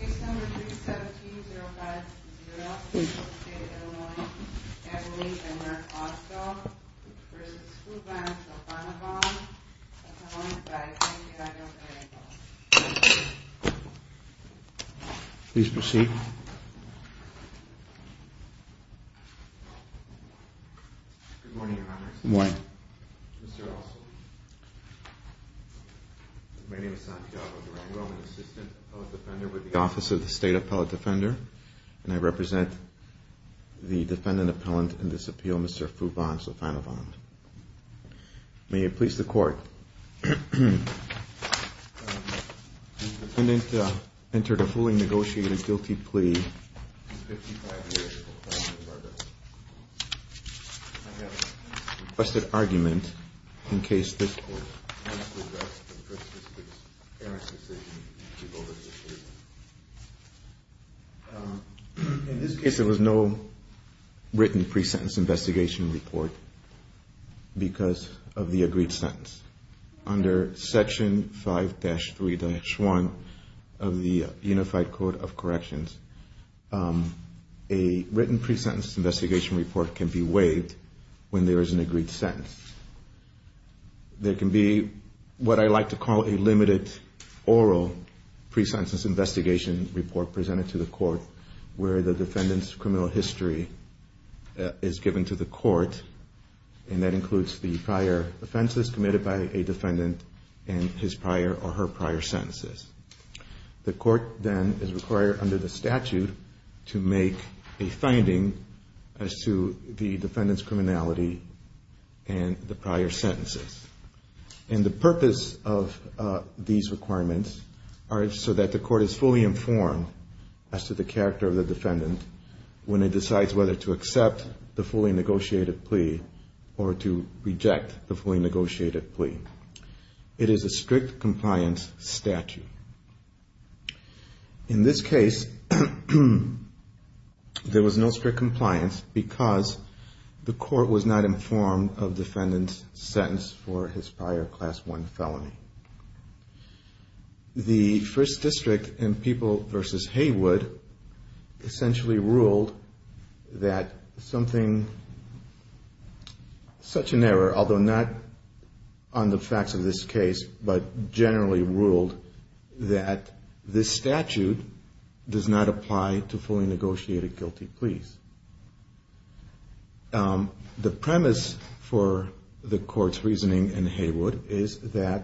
Case number 317-050, located in Illinois, Adelaide, and Maricopa, v. Sophanavong, Sophanavong, Idaho, Illinois. Please proceed. Good morning, Your Honors. Good morning. Mr. Ossoff. My name is Santiago Durango. I'm an assistant appellate defender with the Office of the State Appellate Defender, and I represent the defendant appellant in this appeal, Mr. Fubon Sophanavong. May it please the Court. The defendant entered a fully negotiated guilty plea to 55 years for felony murder. I have a requested argument in case this Court has to address the person's parent's decision to give over his issue. In this case, there was no written pre-sentence investigation report because of the agreed sentence. Under Section 5-3-1 of the Unified Code of Corrections, a written pre-sentence investigation report can be waived when there is an agreed sentence. There can be what I like to call a limited oral pre-sentence investigation report presented to the Court where the defendant's criminal history is given to the Court, and that includes the prior offenses committed by a defendant and his prior or her prior sentences. The Court then is required under the statute to make a finding as to the defendant's criminality and the prior sentences. And the purpose of these requirements are so that the Court is fully informed as to the character of the defendant when it decides whether to accept the fully negotiated plea or to reject the fully negotiated plea. It is a strict compliance statute. In this case, there was no strict compliance because the Court was not informed of the defendant's sentence for his prior Class I felony. The First District in People v. Haywood essentially ruled that something such an error, although not on the facts of this case, but generally ruled that this statute does not apply to fully negotiated guilty pleas. The premise for the Court's reasoning in Haywood is that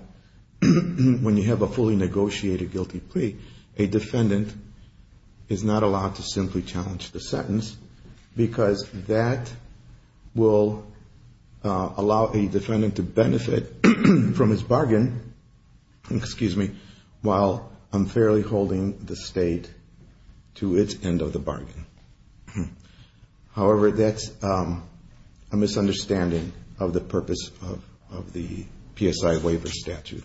when you have a fully negotiated guilty plea, a defendant is not allowed to simply challenge the sentence because that will allow a defendant to benefit from his bargain, while unfairly holding the State to its end of the bargain. However, that's a misunderstanding of the purpose of the PSI waiver statute.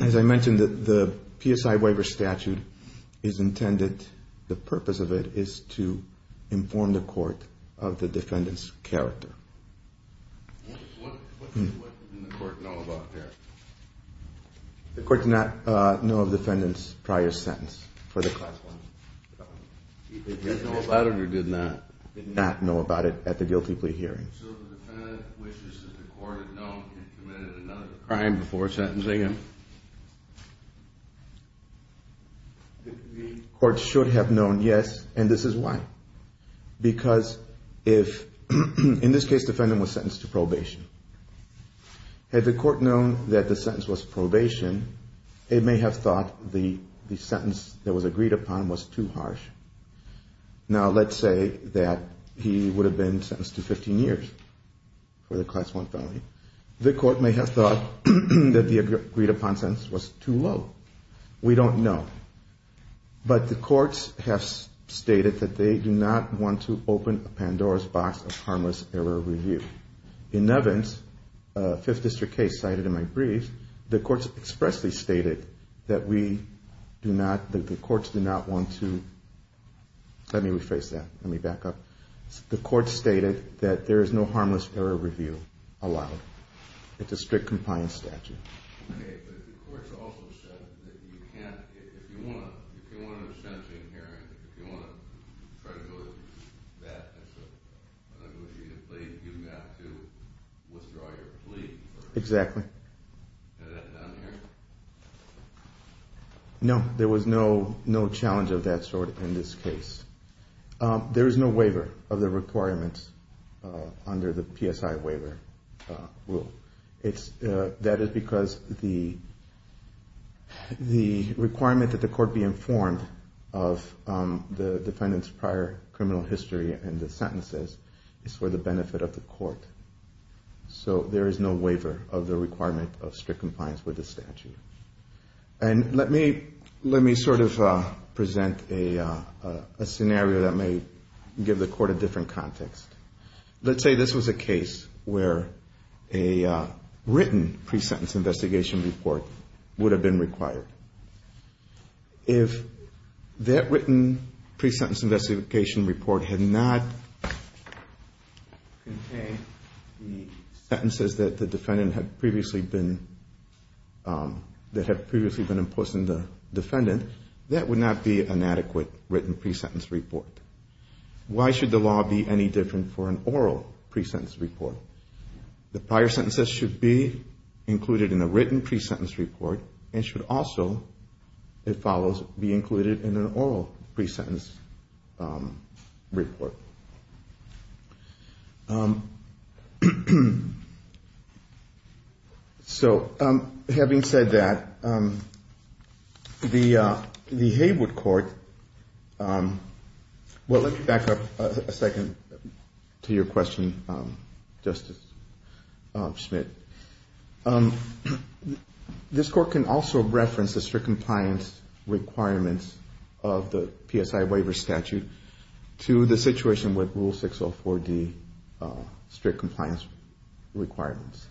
As I mentioned, the PSI waiver statute is intended, the purpose of it is to inform the Court of the defendant's character. What did the Court know about this? The Court did not know of the defendant's prior sentence for the Class I felony. Did they know about it or did they not? They did not know about it at the guilty plea hearing. So the defendant wishes that the Court had known and committed another crime before sentencing him? The Court should have known, yes, and this is why. Because if, in this case, the defendant was sentenced to probation, had the Court known that the sentence was probation, it may have thought the sentence that was agreed upon was too harsh. Now, let's say that he would have been sentenced to 15 years for the Class I felony. The Court may have thought that the agreed-upon sentence was too low. We don't know. But the Courts have stated that they do not want to open a Pandora's box of harmless error review. In Evans, a Fifth District case cited in my brief, the Courts expressly stated that we do not, that the Courts do not want to, let me rephrase that, let me back up. The Courts stated that there is no harmless error review allowed. It's a strict compliance statute. Okay, but the Courts also said that you can't, if you want to, if you want a sentencing hearing, if you want to try to go with that as a plea, you've got to withdraw your plea. Exactly. Is that done here? No, there was no challenge of that sort in this case. There is no waiver of the requirements under the PSI waiver rule. That is because the requirement that the Court be informed of the defendant's prior criminal history and the sentences is for the benefit of the Court. So there is no waiver of the requirement of strict compliance with the statute. And let me sort of present a scenario that may give the Court a different context. Let's say this was a case where a written pre-sentence investigation report would have been required. If that written pre-sentence investigation report had not contained the sentences that the defendant had previously been, that had previously been imposed on the defendant, that would not be an adequate written pre-sentence report. Why should the law be any different for an oral pre-sentence report? The prior sentences should be included in a written pre-sentence report and should also, if follows, be included in an oral pre-sentence report. So having said that, the Haywood Court, well, let me back up a second to your question, Justice Schmidt. This Court can also reference the strict compliance requirements of the PSI waiver statute to the situation with Rule 604D strict compliance requirements.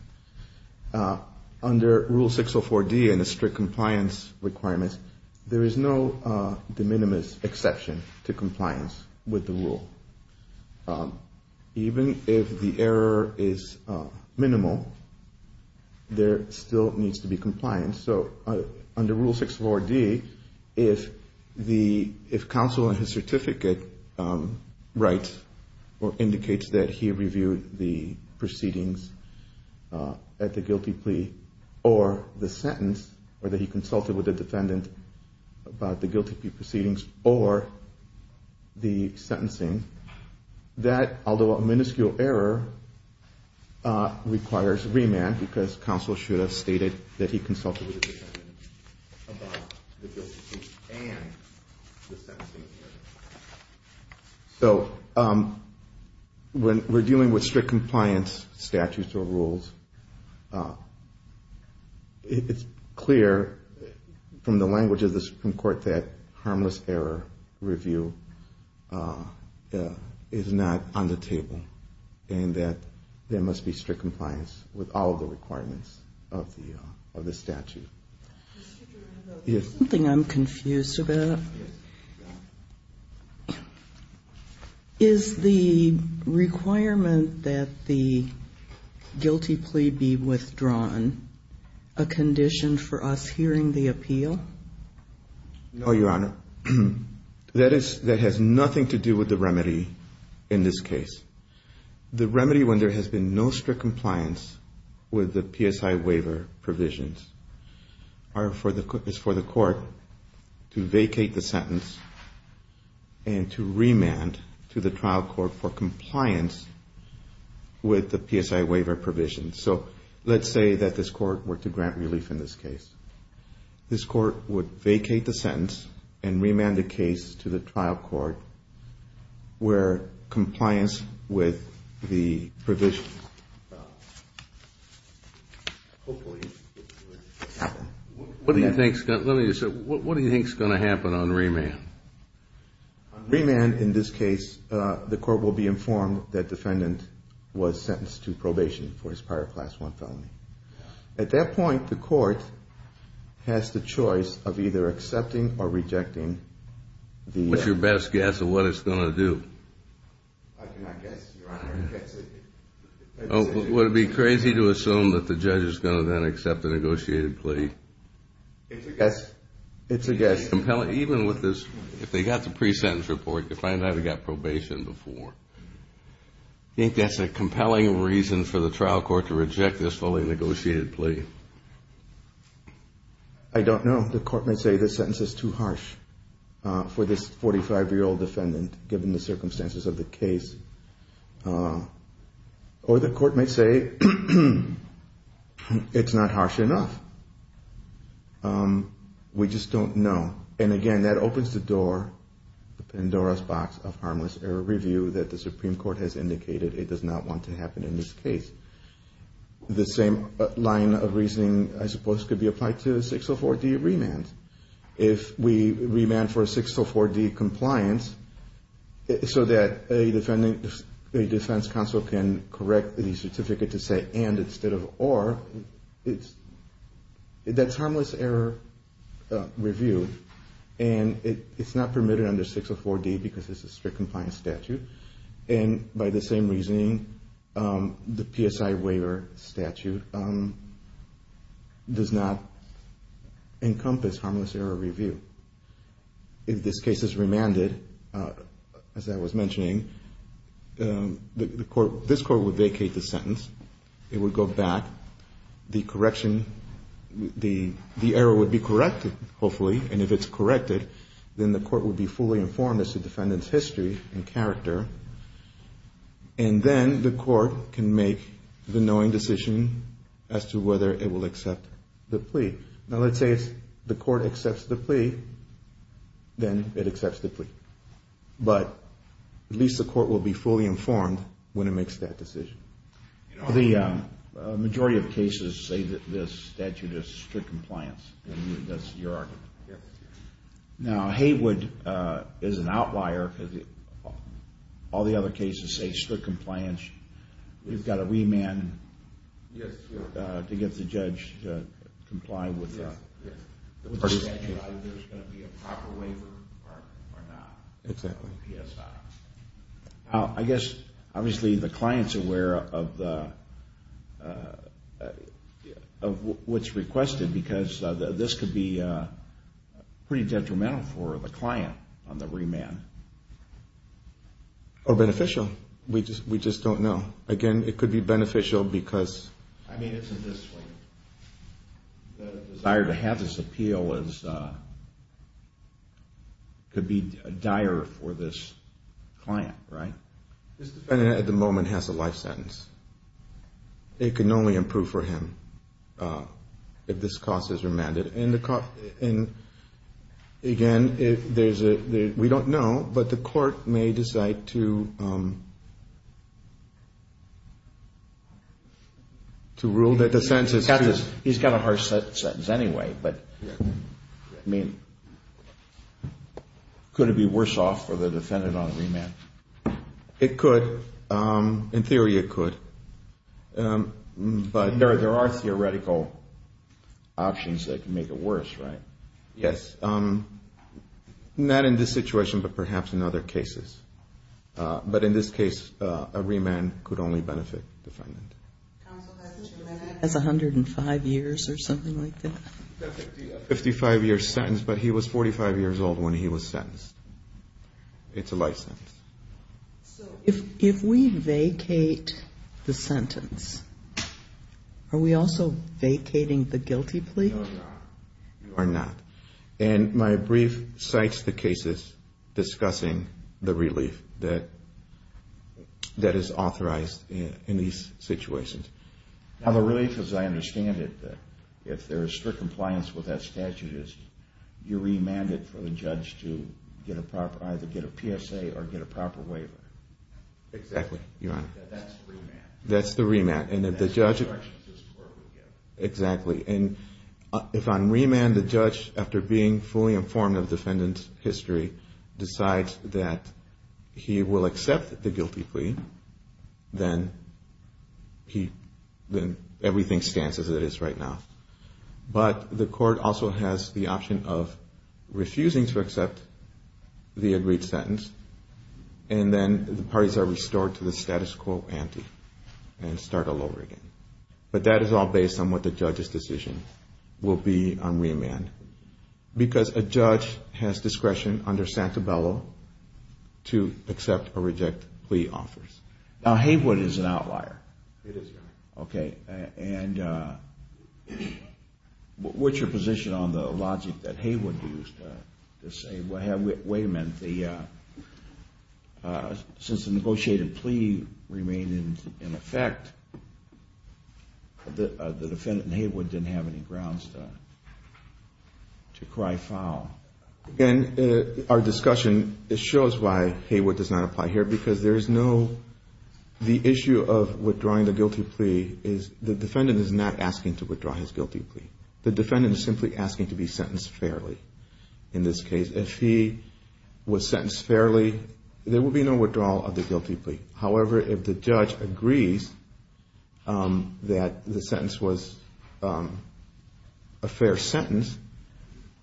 Under Rule 604D and the strict compliance requirements, there is no de minimis exception to compliance with the rule. Even if the error is minimal, there still needs to be compliance. So under Rule 604D, if counsel on his certificate writes or indicates that he reviewed the proceedings at the guilty plea or the sentence, or that he consulted with the defendant about the guilty plea proceedings or the sentencing, that, although a minuscule error, requires remand because counsel should have stated that he consulted with the defendant about the guilty plea and the sentencing. So when we're dealing with strict compliance statutes or rules, it's clear from the language of the Supreme Court that harmless error review is not on the table and that there must be strict compliance with all of the requirements of the statute. Something I'm confused about. Is the requirement that the guilty plea be withdrawn a condition for us hearing the appeal? No, Your Honor. That has nothing to do with the remedy in this case. The remedy when there has been no strict compliance with the PSI waiver provisions is for the court to vacate the sentence and to remand to the trial court for compliance with the PSI waiver provisions. So let's say that this court were to grant relief in this case. This court would vacate the sentence and remand the case to the trial court where compliance with the provision. What do you think is going to happen on remand? On remand in this case, the court will be informed that defendant was sentenced to probation for his prior Class I felony. At that point, the court has the choice of either accepting or rejecting the... What's your best guess of what it's going to do? I cannot guess, Your Honor. Would it be crazy to assume that the judge is going to then accept the negotiated plea? It's a guess. It's a guess. Even with this, if they got the pre-sentence report to find out he got probation before. I think that's a compelling reason for the trial court to reject this fully negotiated plea. I don't know. The court may say this sentence is too harsh for this 45-year-old defendant given the circumstances of the case. Or the court may say it's not harsh enough. We just don't know. And again, that opens the door, the Pandora's box of harmless error review that the Supreme Court has indicated it does not want to happen in this case. The same line of reasoning, I suppose, could be applied to 604D remand. If we remand for a 604D compliance so that a defense counsel can correct the certificate to say and instead of or, that's harmless error review and it's not permitted under 604D because it's a strict compliance statute. And by the same reasoning, the PSI waiver statute does not encompass harmless error review. If this case is remanded, as I was mentioning, this court would vacate the sentence. It would go back. The correction, the error would be corrected, hopefully. And if it's corrected, then the court would be fully informed as to defendant's history and character. And then the court can make the knowing decision as to whether it will accept the plea. Now, let's say the court accepts the plea, then it accepts the plea. But at least the court will be fully informed when it makes that decision. The majority of cases say that this statute is strict compliance. That's your argument? Yes. Now, Haywood is an outlier because all the other cases say strict compliance. We've got to remand to get the judge to comply with the statute. Whether there's going to be a proper waiver or not. Exactly. PSI. I guess, obviously, the client's aware of what's requested because this could be pretty detrimental for the client on the remand. Or beneficial. We just don't know. Again, it could be beneficial because... I mean, it's in this way. The desire to have this appeal could be dire for this client, right? This defendant, at the moment, has a life sentence. It can only improve for him if this cause is remanded. And, again, we don't know, but the court may decide to rule that the sentence... He's got a harsh sentence anyway. Could it be worse off for the defendant on remand? It could. In theory, it could. There are theoretical options that can make it worse, right? Yes. Not in this situation, but perhaps in other cases. But in this case, a remand could only benefit the defendant. That's 105 years or something like that. A 55-year sentence, but he was 45 years old when he was sentenced. It's a life sentence. If we vacate the sentence, are we also vacating the guilty plea? No, you are not. You are not. And my brief cites the cases discussing the relief that is authorized in these situations. Now, the relief, as I understand it, if there is strict compliance with that statute, you remand it for the judge to either get a PSA or get a proper waiver. Exactly, Your Honor. That's the remand. That's the remand. That's the instructions this court would give. Exactly. And if on remand the judge, after being fully informed of the defendant's history, decides that he will accept the guilty plea, then everything stands as it is right now. But the court also has the option of refusing to accept the agreed sentence, and then the parties are restored to the status quo ante and start all over again. But that is all based on what the judge's decision will be on remand. Because a judge has discretion under Santabello to accept or reject plea offers. Now, Haywood is an outlier. It is, Your Honor. Okay. And what's your position on the logic that Haywood used to say, Wait a minute. Since the negotiated plea remained in effect, the defendant, Haywood, didn't have any grounds to cry foul. Again, our discussion shows why Haywood does not apply here, because the issue of withdrawing the guilty plea is the defendant is not asking to withdraw his guilty plea. The defendant is simply asking to be sentenced fairly in this case. If he was sentenced fairly, there would be no withdrawal of the guilty plea. However, if the judge agrees that the sentence was a fair sentence,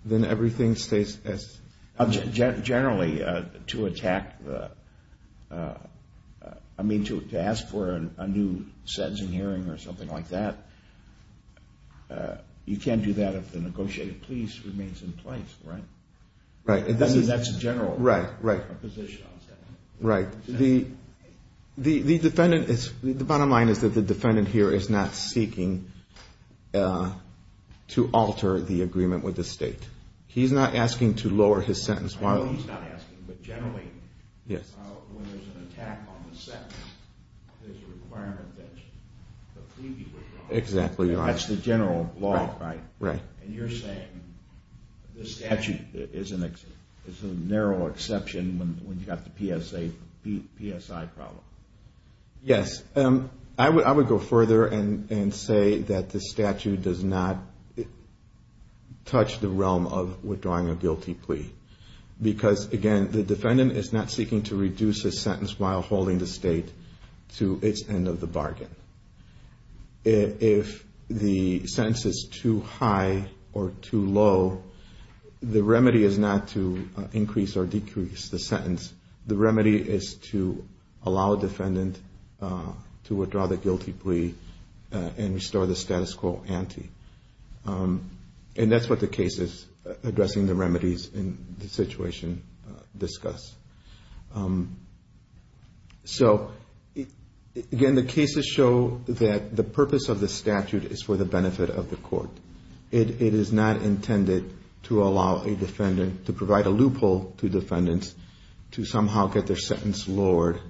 then everything stays as it is. Generally, to ask for a new sentencing hearing or something like that, you can't do that if the negotiated plea remains in place, right? Right. That's a general position. Right. The bottom line is that the defendant here is not seeking to alter the agreement with the state. He's not asking to lower his sentence. I know he's not asking, but generally, when there's an attack on the sentence, there's a requirement that the plea be withdrawn. Exactly. That's the general law, right? Right. And you're saying the statute is a narrow exception when you've got the PSI problem. Yes. I would go further and say that the statute does not touch the realm of withdrawing a guilty plea, because, again, the defendant is not seeking to reduce his sentence while holding the state to its end of the bargain. If the sentence is too high or too low, the remedy is not to increase or decrease the sentence. The remedy is to allow a defendant to withdraw the guilty plea and restore the status quo ante. And that's what the cases addressing the remedies in this situation discuss. So, again, the cases show that the purpose of the statute is for the benefit of the court. It is not intended to allow a defendant, to provide a loophole to defendants, to somehow get their sentence lowered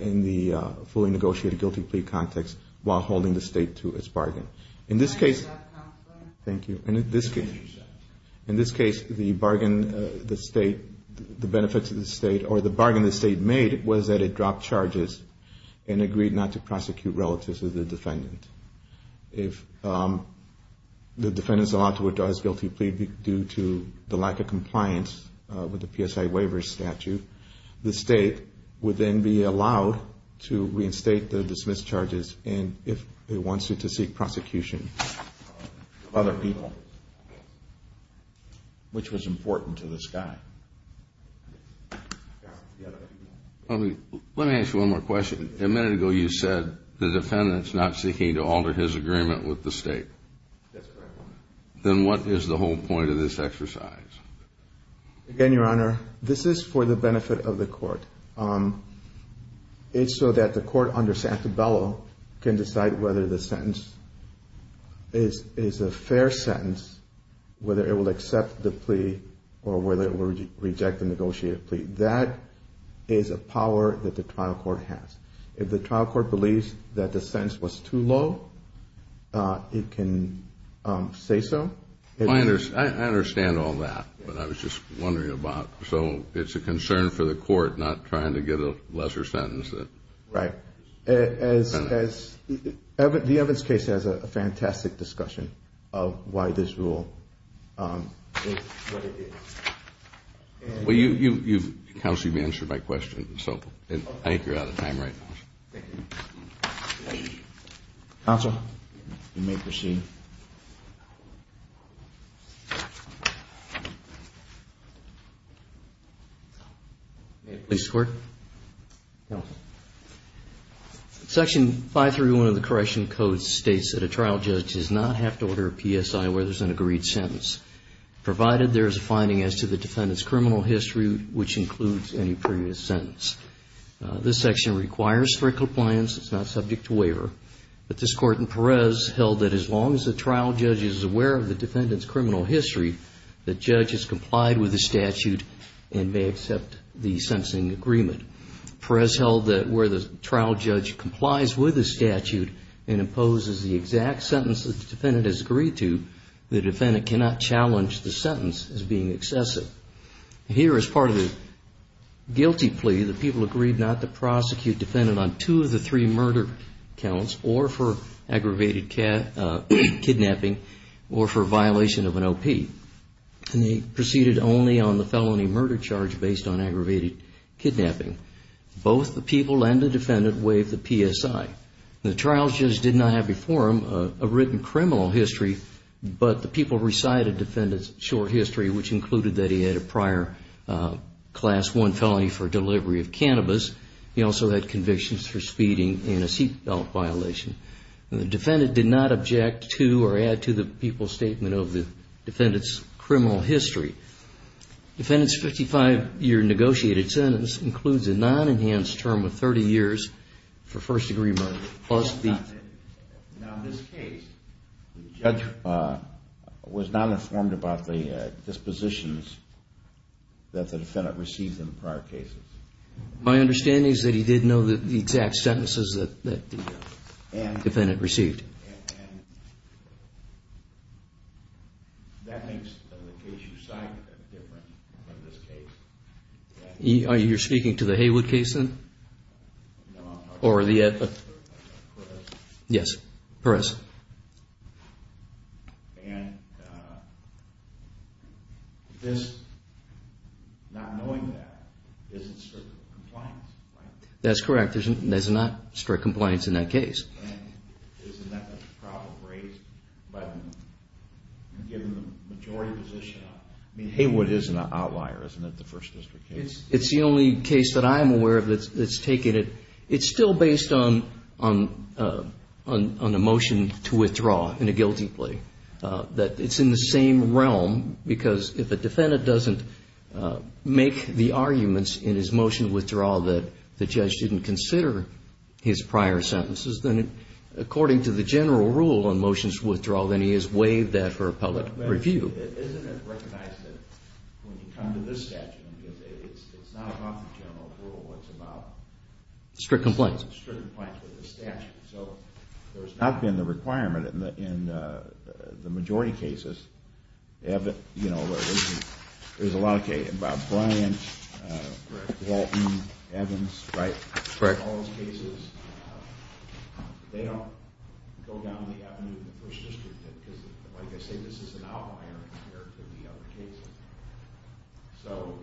in the fully negotiated guilty plea context while holding the state to its bargain. In this case, the bargain the state made was that it dropped charges and agreed not to prosecute relatives of the defendant. If the defendant is allowed to withdraw his guilty plea due to the lack of compliance with the PSI waiver statute, the state would then be allowed to reinstate the dismissed charges if it wants it to seek prosecution of other people, which was important to this guy. Let me ask you one more question. A minute ago, you said the defendant is not seeking to alter his agreement with the state. That's correct, Your Honor. Then what is the whole point of this exercise? Again, Your Honor, this is for the benefit of the court. It's so that the court under Santabella can decide whether the sentence is a fair sentence, whether it will accept the plea or whether it will reject the negotiated plea. That is a power that the trial court has. If the trial court believes that the sentence was too low, it can say so. I understand all that, but I was just wondering about it. It's a concern for the court not trying to get a lesser sentence. Right. The Evans case has a fantastic discussion of why this rule is what it is. Counsel, you've answered my question, so I think you're out of time right now. Counsel, you may proceed. May it please the Court? Counsel. Section 531 of the Correctional Code states that a trial judge does not have to order a PSI where there's an agreed sentence, provided there is a finding as to the defendant's criminal history, which includes any previous sentence. This section requires strict compliance. It's not subject to waiver. But this Court in Perez held that as long as the trial judge is aware of the defendant's criminal history, the judge has complied with the statute and may accept the sentencing agreement. Perez held that where the trial judge complies with the statute and imposes the exact sentence that the defendant has agreed to, the defendant cannot challenge the sentence as being excessive. Here, as part of the guilty plea, the people agreed not to prosecute the defendant on two of the three murder counts or for aggravated kidnapping or for violation of an OP. And they proceeded only on the felony murder charge based on aggravated kidnapping. Both the people and the defendant waived the PSI. The trial judge did not have before him a written criminal history, but the people recited the defendant's short history, which included that he had a prior Class I felony for delivery of cannabis. He also had convictions for speeding and a seat belt violation. The defendant did not object to or add to the people's statement of the defendant's criminal history. The defendant's 55-year negotiated sentence includes a non-enhanced term of 30 years for first-degree murder. Now, in this case, the judge was not informed about the dispositions that the defendant received in prior cases. My understanding is that he did know the exact sentences that the defendant received. And that makes the case you cite different from this case. You're speaking to the Haywood case, then? No, I'm talking about Perez. Yes, Perez. And just not knowing that isn't strict compliance, right? That's correct. There's not strict compliance in that case. And isn't that a problem raised by the majority position? I mean, Haywood is an outlier, isn't it, the First District case? It's the only case that I'm aware of that's taken it. It's still based on a motion to withdraw in a guilty plea, that it's in the same realm. Because if a defendant doesn't make the arguments in his motion to withdraw that the judge didn't consider his prior sentences, then according to the general rule on motions to withdraw, then he is waived there for appellate review. Isn't it recognized that when you come to this statute, it's not about the general rule, it's about strict compliance? Strict compliance with the statute. So there's not been the requirement in the majority cases. There's a lot of cases, Bob Bryant, Walton, Evans, Wright, all those cases. They don't go down the avenue in the First District. Like I say, this is an outlier compared to the other cases. So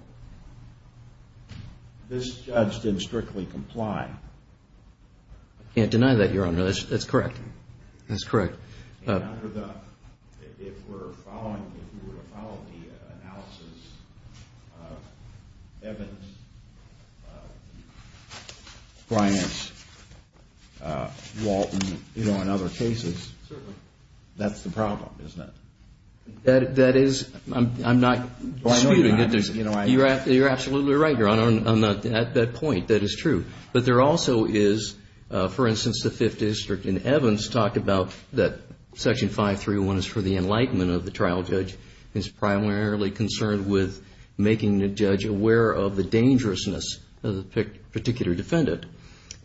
this judge didn't strictly comply. I can't deny that, Your Honor. That's correct. And under the, if we're following, if we were to follow the analysis of Evans, Bryant, Walton, you know, and other cases, that's the problem, isn't it? That is, I'm not disputing it. You're absolutely right, Your Honor. At that point, that is true. But there also is, for instance, the Fifth District in Evans talked about that Section 531 is for the enlightenment of the trial judge. It's primarily concerned with making the judge aware of the dangerousness of the particular defendant.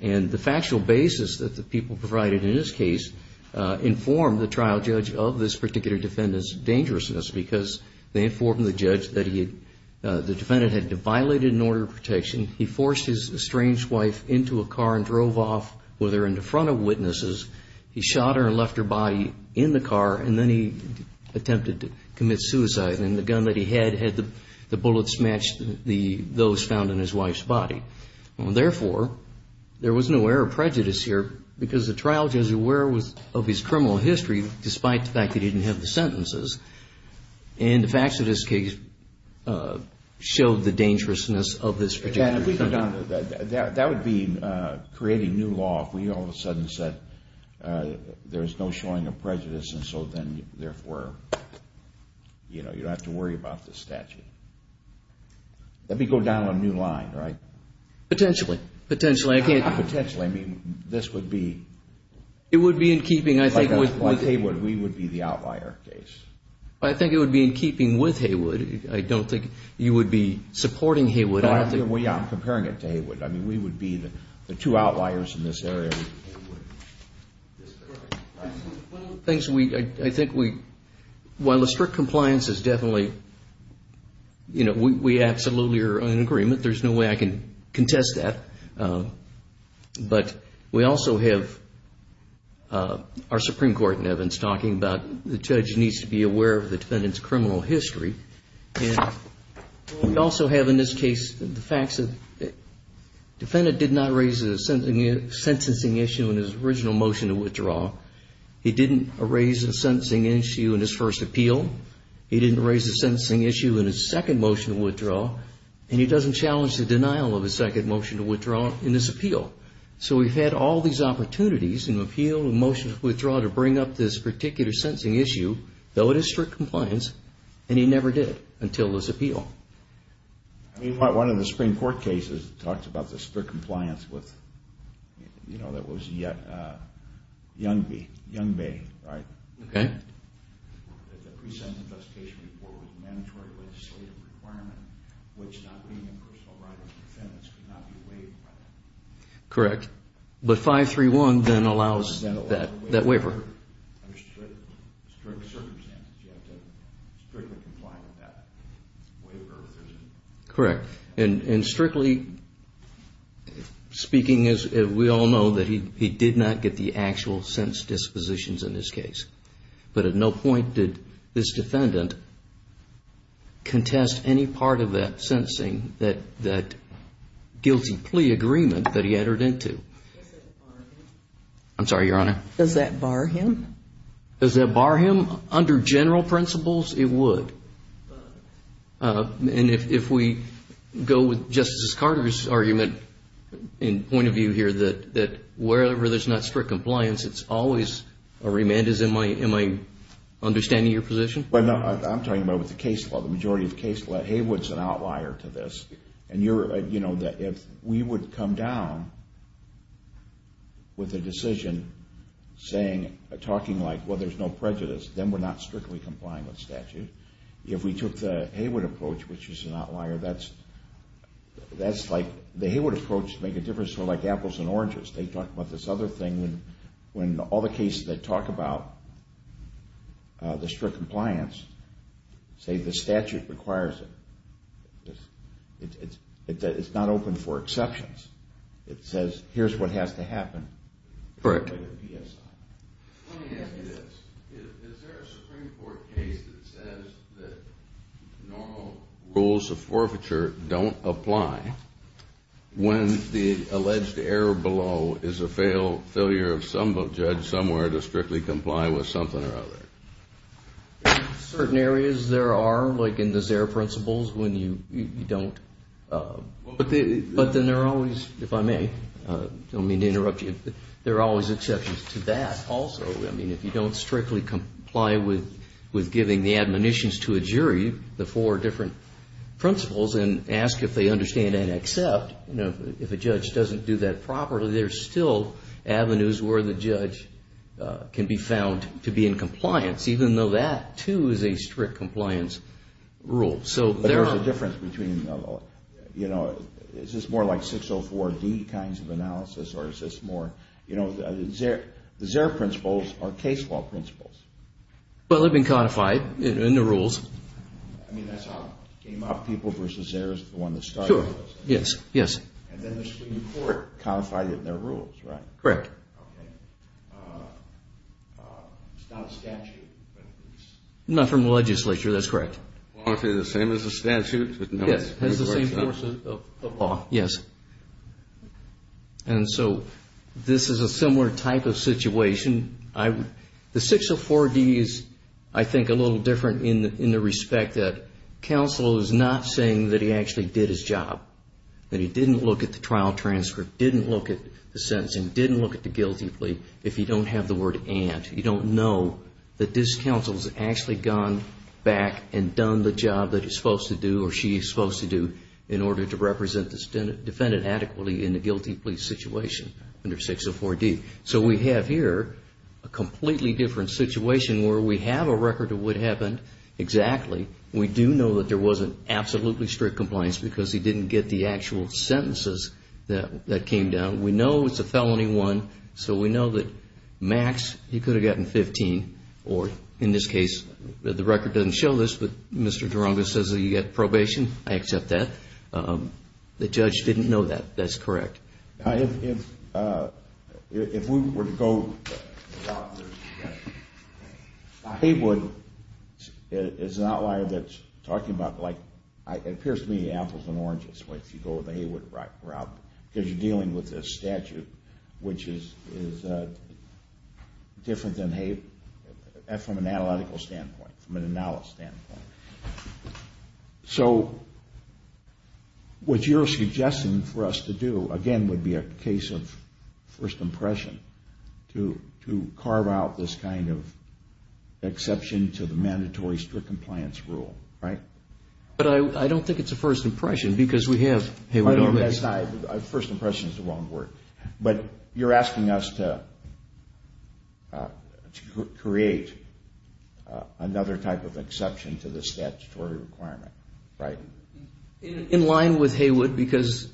And the factual basis that the people provided in this case informed the trial judge of this particular defendant's dangerousness because they informed the judge that the defendant had violated an order of protection. He forced his estranged wife into a car and drove off with her in front of witnesses. He shot her and left her body in the car, and then he attempted to commit suicide. And the gun that he had had the bullets match those found in his wife's body. Therefore, there was no air of prejudice here because the trial judge was aware of his criminal history, despite the fact that he didn't have the sentences. And the facts of this case showed the dangerousness of this particular defendant. That would be creating new law if we all of a sudden said there's no showing of prejudice. And so then, therefore, you know, you don't have to worry about this statute. That would be going down a new line, right? Potentially. Potentially. Potentially. I mean, this would be. It would be in keeping, I think. Like Haywood, we would be the outlier case. I think it would be in keeping with Haywood. I don't think you would be supporting Haywood. Well, yeah, I'm comparing it to Haywood. I mean, we would be the two outliers in this area. One of the things we, I think we, while the strict compliance is definitely, you know, we absolutely are in agreement. There's no way I can contest that. But we also have our Supreme Court in Evans talking about the judge needs to be aware of the defendant's criminal history. And we also have in this case the facts that the defendant did not raise a sentencing issue in his original motion to withdraw. He didn't raise a sentencing issue in his first appeal. He didn't raise a sentencing issue in his second motion to withdraw. And he doesn't challenge the denial of his second motion to withdraw in this appeal. So we've had all these opportunities in appeal and motion to withdraw to bring up this particular sentencing issue, though it is strict compliance, and he never did until this appeal. I mean, one of the Supreme Court cases talks about the strict compliance with, you know, that was Young Bay, right? Okay. That the pre-sentence investigation report was a mandatory legislative requirement, which not being a personal right of defendants could not be waived by that. Correct. But 531 then allows that waiver. Under strict circumstances, you have to strictly comply with that waiver. Correct. And strictly speaking, we all know that he did not get the actual sentence dispositions in this case. But at no point did this defendant contest any part of that sentencing, that guilty plea agreement that he entered into. Does that bar him? I'm sorry, Your Honor? Does that bar him? Does that bar him? Under general principles, it would. And if we go with Justice Carter's argument in point of view here that wherever there's not strict compliance, it's always a remand is, in my understanding, your position? I'm talking about with the case law, the majority of the case law. Haywood's an outlier to this. And, you know, if we would come down with a decision saying, talking like, well, there's no prejudice, then we're not strictly complying with statute. If we took the Haywood approach, which is an outlier, that's like the Haywood approach to make a difference, sort of like apples and oranges. They talk about this other thing when all the cases that talk about the strict compliance say the statute requires it. It's not open for exceptions. It says, here's what has to happen. Correct. Let me ask you this. Is there a Supreme Court case that says that normal rules of forfeiture don't apply when the alleged error below is a failure of some judge somewhere to strictly comply with something or other? In certain areas there are, like in the ZEHR principles, when you don't. But then there are always, if I may, I don't mean to interrupt you, there are always exceptions to that also. I mean, if you don't strictly comply with giving the admonitions to a jury, the four different principles, and ask if they understand and accept, you know, if a judge doesn't do that properly, there's still avenues where the judge can be found to be in compliance, even though that, too, is a strict compliance rule. But there's a difference between, you know, is this more like 604D kinds of analysis or is this more, you know, the ZEHR principles are case law principles. Well, they've been codified in the rules. I mean, that's how Game Hop People versus ZEHR is the one that started it. Sure, yes, yes. And then the Supreme Court codified it in their rules, right? Correct. Okay. It's not a statute, but it's... Not from the legislature, that's correct. Well, aren't they the same as a statute? Yes, it has the same forces of law, yes. And so this is a similar type of situation. The 604D is, I think, a little different in the respect that counsel is not saying that he actually did his job, that he didn't look at the trial transcript, didn't look at the sentencing, didn't look at the guilty plea, if you don't have the word and. You don't know that this counsel has actually gone back and done the job that he's supposed to do or she's supposed to do in order to represent the defendant adequately in the guilty plea situation under 604D. So we have here a completely different situation where we have a record of what happened exactly. We do know that there wasn't absolutely strict compliance because he didn't get the actual sentences that came down. We know it's a felony one, so we know that max, he could have gotten 15, or in this case, the record doesn't show this, but Mr. Durango says that he got probation. I accept that. The judge didn't know that. That's correct. If we were to go out there, Haywood is an outlier that's talking about, like, it appears to me apples and oranges, if you go to the Haywood route, because you're dealing with a statute which is different from an analytical standpoint, from an analysis standpoint. So what you're suggesting for us to do, again, would be a case of first impression to carve out this kind of exception to the mandatory strict compliance rule, right? But I don't think it's a first impression because we have Haywood already. First impression is the wrong word. But you're asking us to create another type of exception to the statutory requirement, right? In line with Haywood because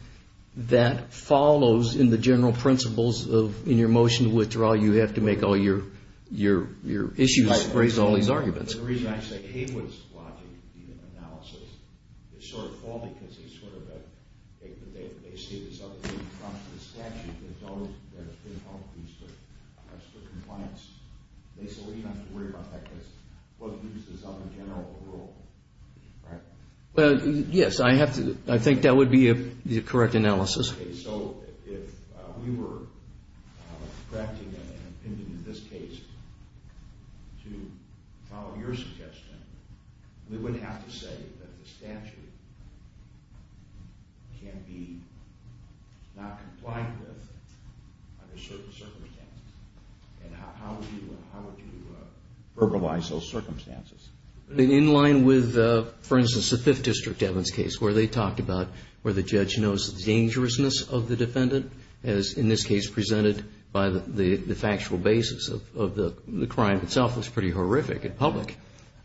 that follows in the general principles of, in your motion to withdraw, you have to make all your issues, raise all these arguments. But the reason I say Haywood's logic in the analysis is sort of faulty because it's sort of a, they say there's other things in front of the statute that don't increase the compliance. So we don't have to worry about that because we'll use this other general rule, right? Yes, I think that would be the correct analysis. Okay, so if we were drafting an opinion in this case to follow your suggestion, we would have to say that the statute can be not compliant with under certain circumstances. And how would you verbalize those circumstances? In line with, for instance, the Fifth District Evans case where they talked about where the judge knows the dangerousness of the defendant, as in this case presented by the factual basis of the crime itself, it's pretty horrific in public.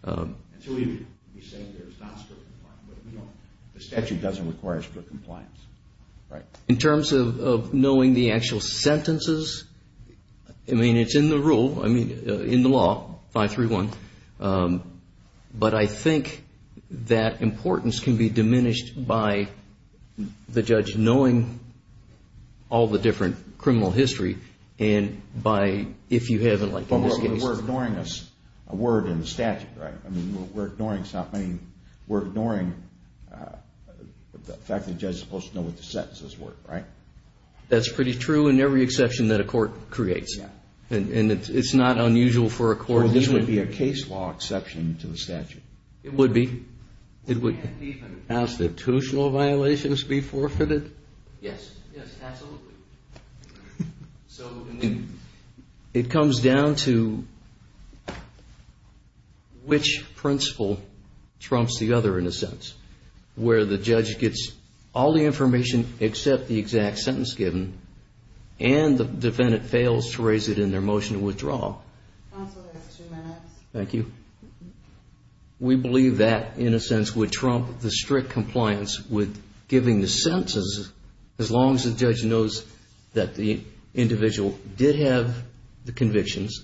So we would be saying that it's not strictly compliant, but we know the statute doesn't require strict compliance, right? In terms of knowing the actual sentences, I mean, it's in the rule, I mean, in the law, 531. But I think that importance can be diminished by the judge knowing all the different criminal history and by, if you haven't, like in this case. But we're ignoring a word in the statute, right? I mean, we're ignoring the fact that the judge is supposed to know what the sentences were, right? That's pretty true in every exception that a court creates. Yeah. And it's not unusual for a court even to be a case law exception to the statute. It would be. It would. Can't even. Constitutional violations be forfeited? Yes. Yes, absolutely. So it comes down to which principle trumps the other, in a sense, where the judge gets all the information except the exact sentence given and the defendant fails to raise it in their motion to withdraw. Counsel has two minutes. Thank you. We believe that, in a sense, would trump the strict compliance with giving the sentences as long as the judge knows that the individual did have the convictions.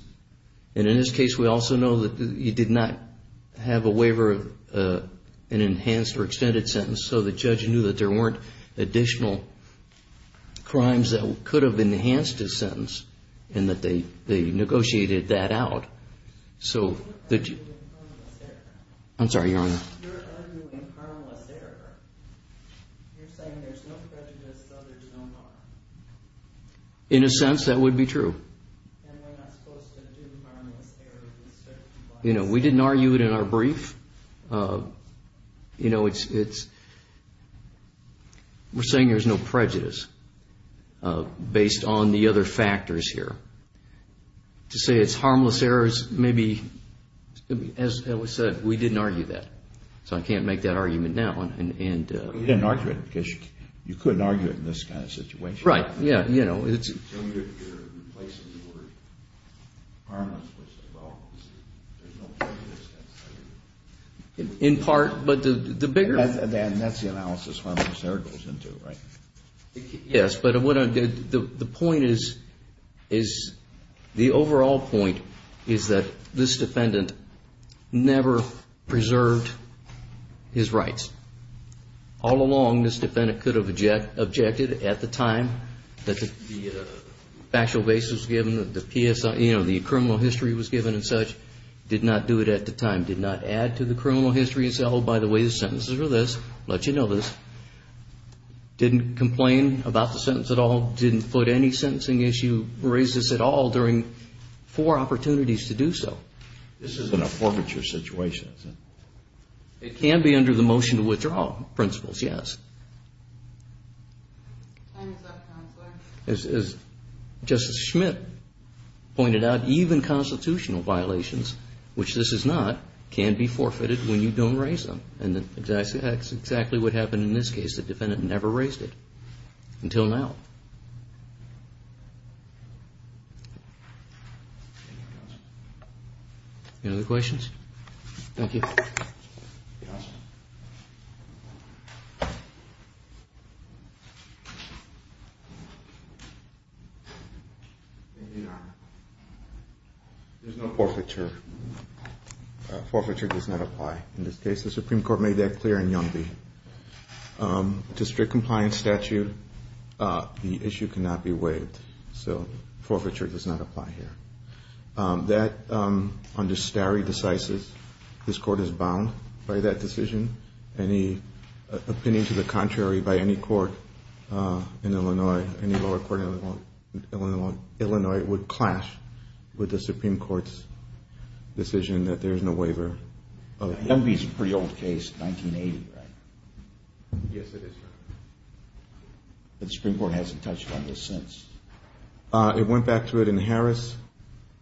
And in this case, we also know that he did not have a waiver of an enhanced or extended sentence so the judge knew that there weren't additional crimes that could have enhanced his sentence and that they negotiated that out. You're arguing harmless error. I'm sorry, Your Honor. You're arguing harmless error. You're saying there's no prejudice, so there's no harm. In a sense, that would be true. And we're not supposed to do harmless error with strict compliance. You know, we didn't argue it in our brief. You know, we're saying there's no prejudice based on the other factors here. To say it's harmless error is maybe, as was said, we didn't argue that. So I can't make that argument now. You didn't argue it because you couldn't argue it in this kind of situation. Right. So you're replacing the word harmless with well, there's no prejudice. In part, but the bigger... And that's the analysis harmless error goes into, right? Yes, but the point is, the overall point is that this defendant never preserved his rights. All along, this defendant could have objected at the time that the factual basis was given, the criminal history was given and such. Did not do it at the time. Did not add to the criminal history and say, oh, by the way, the sentences are this. Let you know this. Didn't complain about the sentence at all. Didn't foot any sentencing issue, racist at all, during four opportunities to do so. This isn't a forfeiture situation, is it? It can be under the motion to withdraw principles, yes. Time is up, Counselor. As Justice Schmitt pointed out, even constitutional violations, which this is not, can be forfeited when you don't raise them. And that's exactly what happened in this case. The defendant never raised it until now. Any other questions? Thank you. There's no forfeiture. Forfeiture does not apply in this case. The Supreme Court made that clear in Young v. District compliance statute, the issue cannot be waived. So forfeiture does not apply here. That, under stare decisis, this court is bound by that decision. Any opinion to the contrary by any court in Illinois, any lower court in Illinois, would clash with the Supreme Court's decision that there is no waiver. Young v. is a pretty old case, 1980, right? Yes, it is, Your Honor. The Supreme Court hasn't touched on this since. It went back to it in Harris,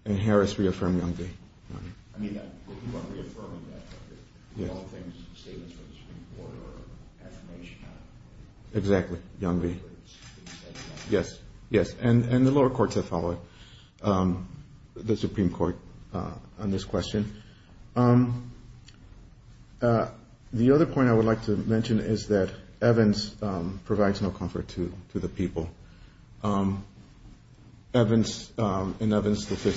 and Harris reaffirmed Young v. Exactly, Young v. Yes, yes, and the lower courts have followed the Supreme Court on this question. The other point I would like to mention is that Evans provides no comfort to the people. Evans, in Evans v.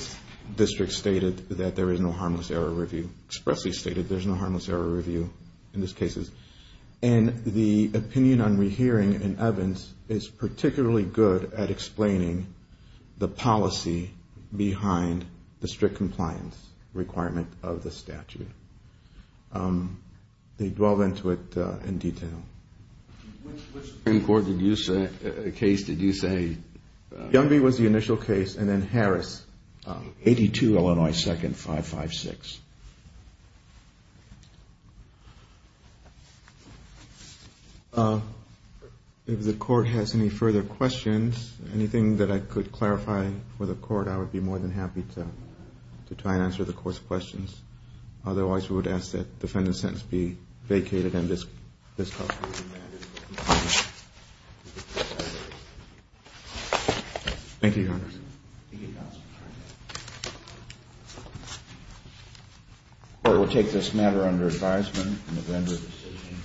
District, stated that there is no harmless error review, expressly stated there's no harmless error review in this case. And the opinion on rehearing in Evans is particularly good at explaining the policy behind the strict compliance requirement of the statute. They dwell into it in detail. Which Supreme Court case did you say? Young v. was the initial case, and then Harris, 82, Illinois 2nd, 556. If the Court has any further questions, anything that I could clarify for the Court, I would be more than happy to try and answer the Court's questions. Otherwise, we would ask that the defendant's sentence be vacated and discussed. Thank you, Your Honor. The Court will take this matter under advisement in the vendor's decision.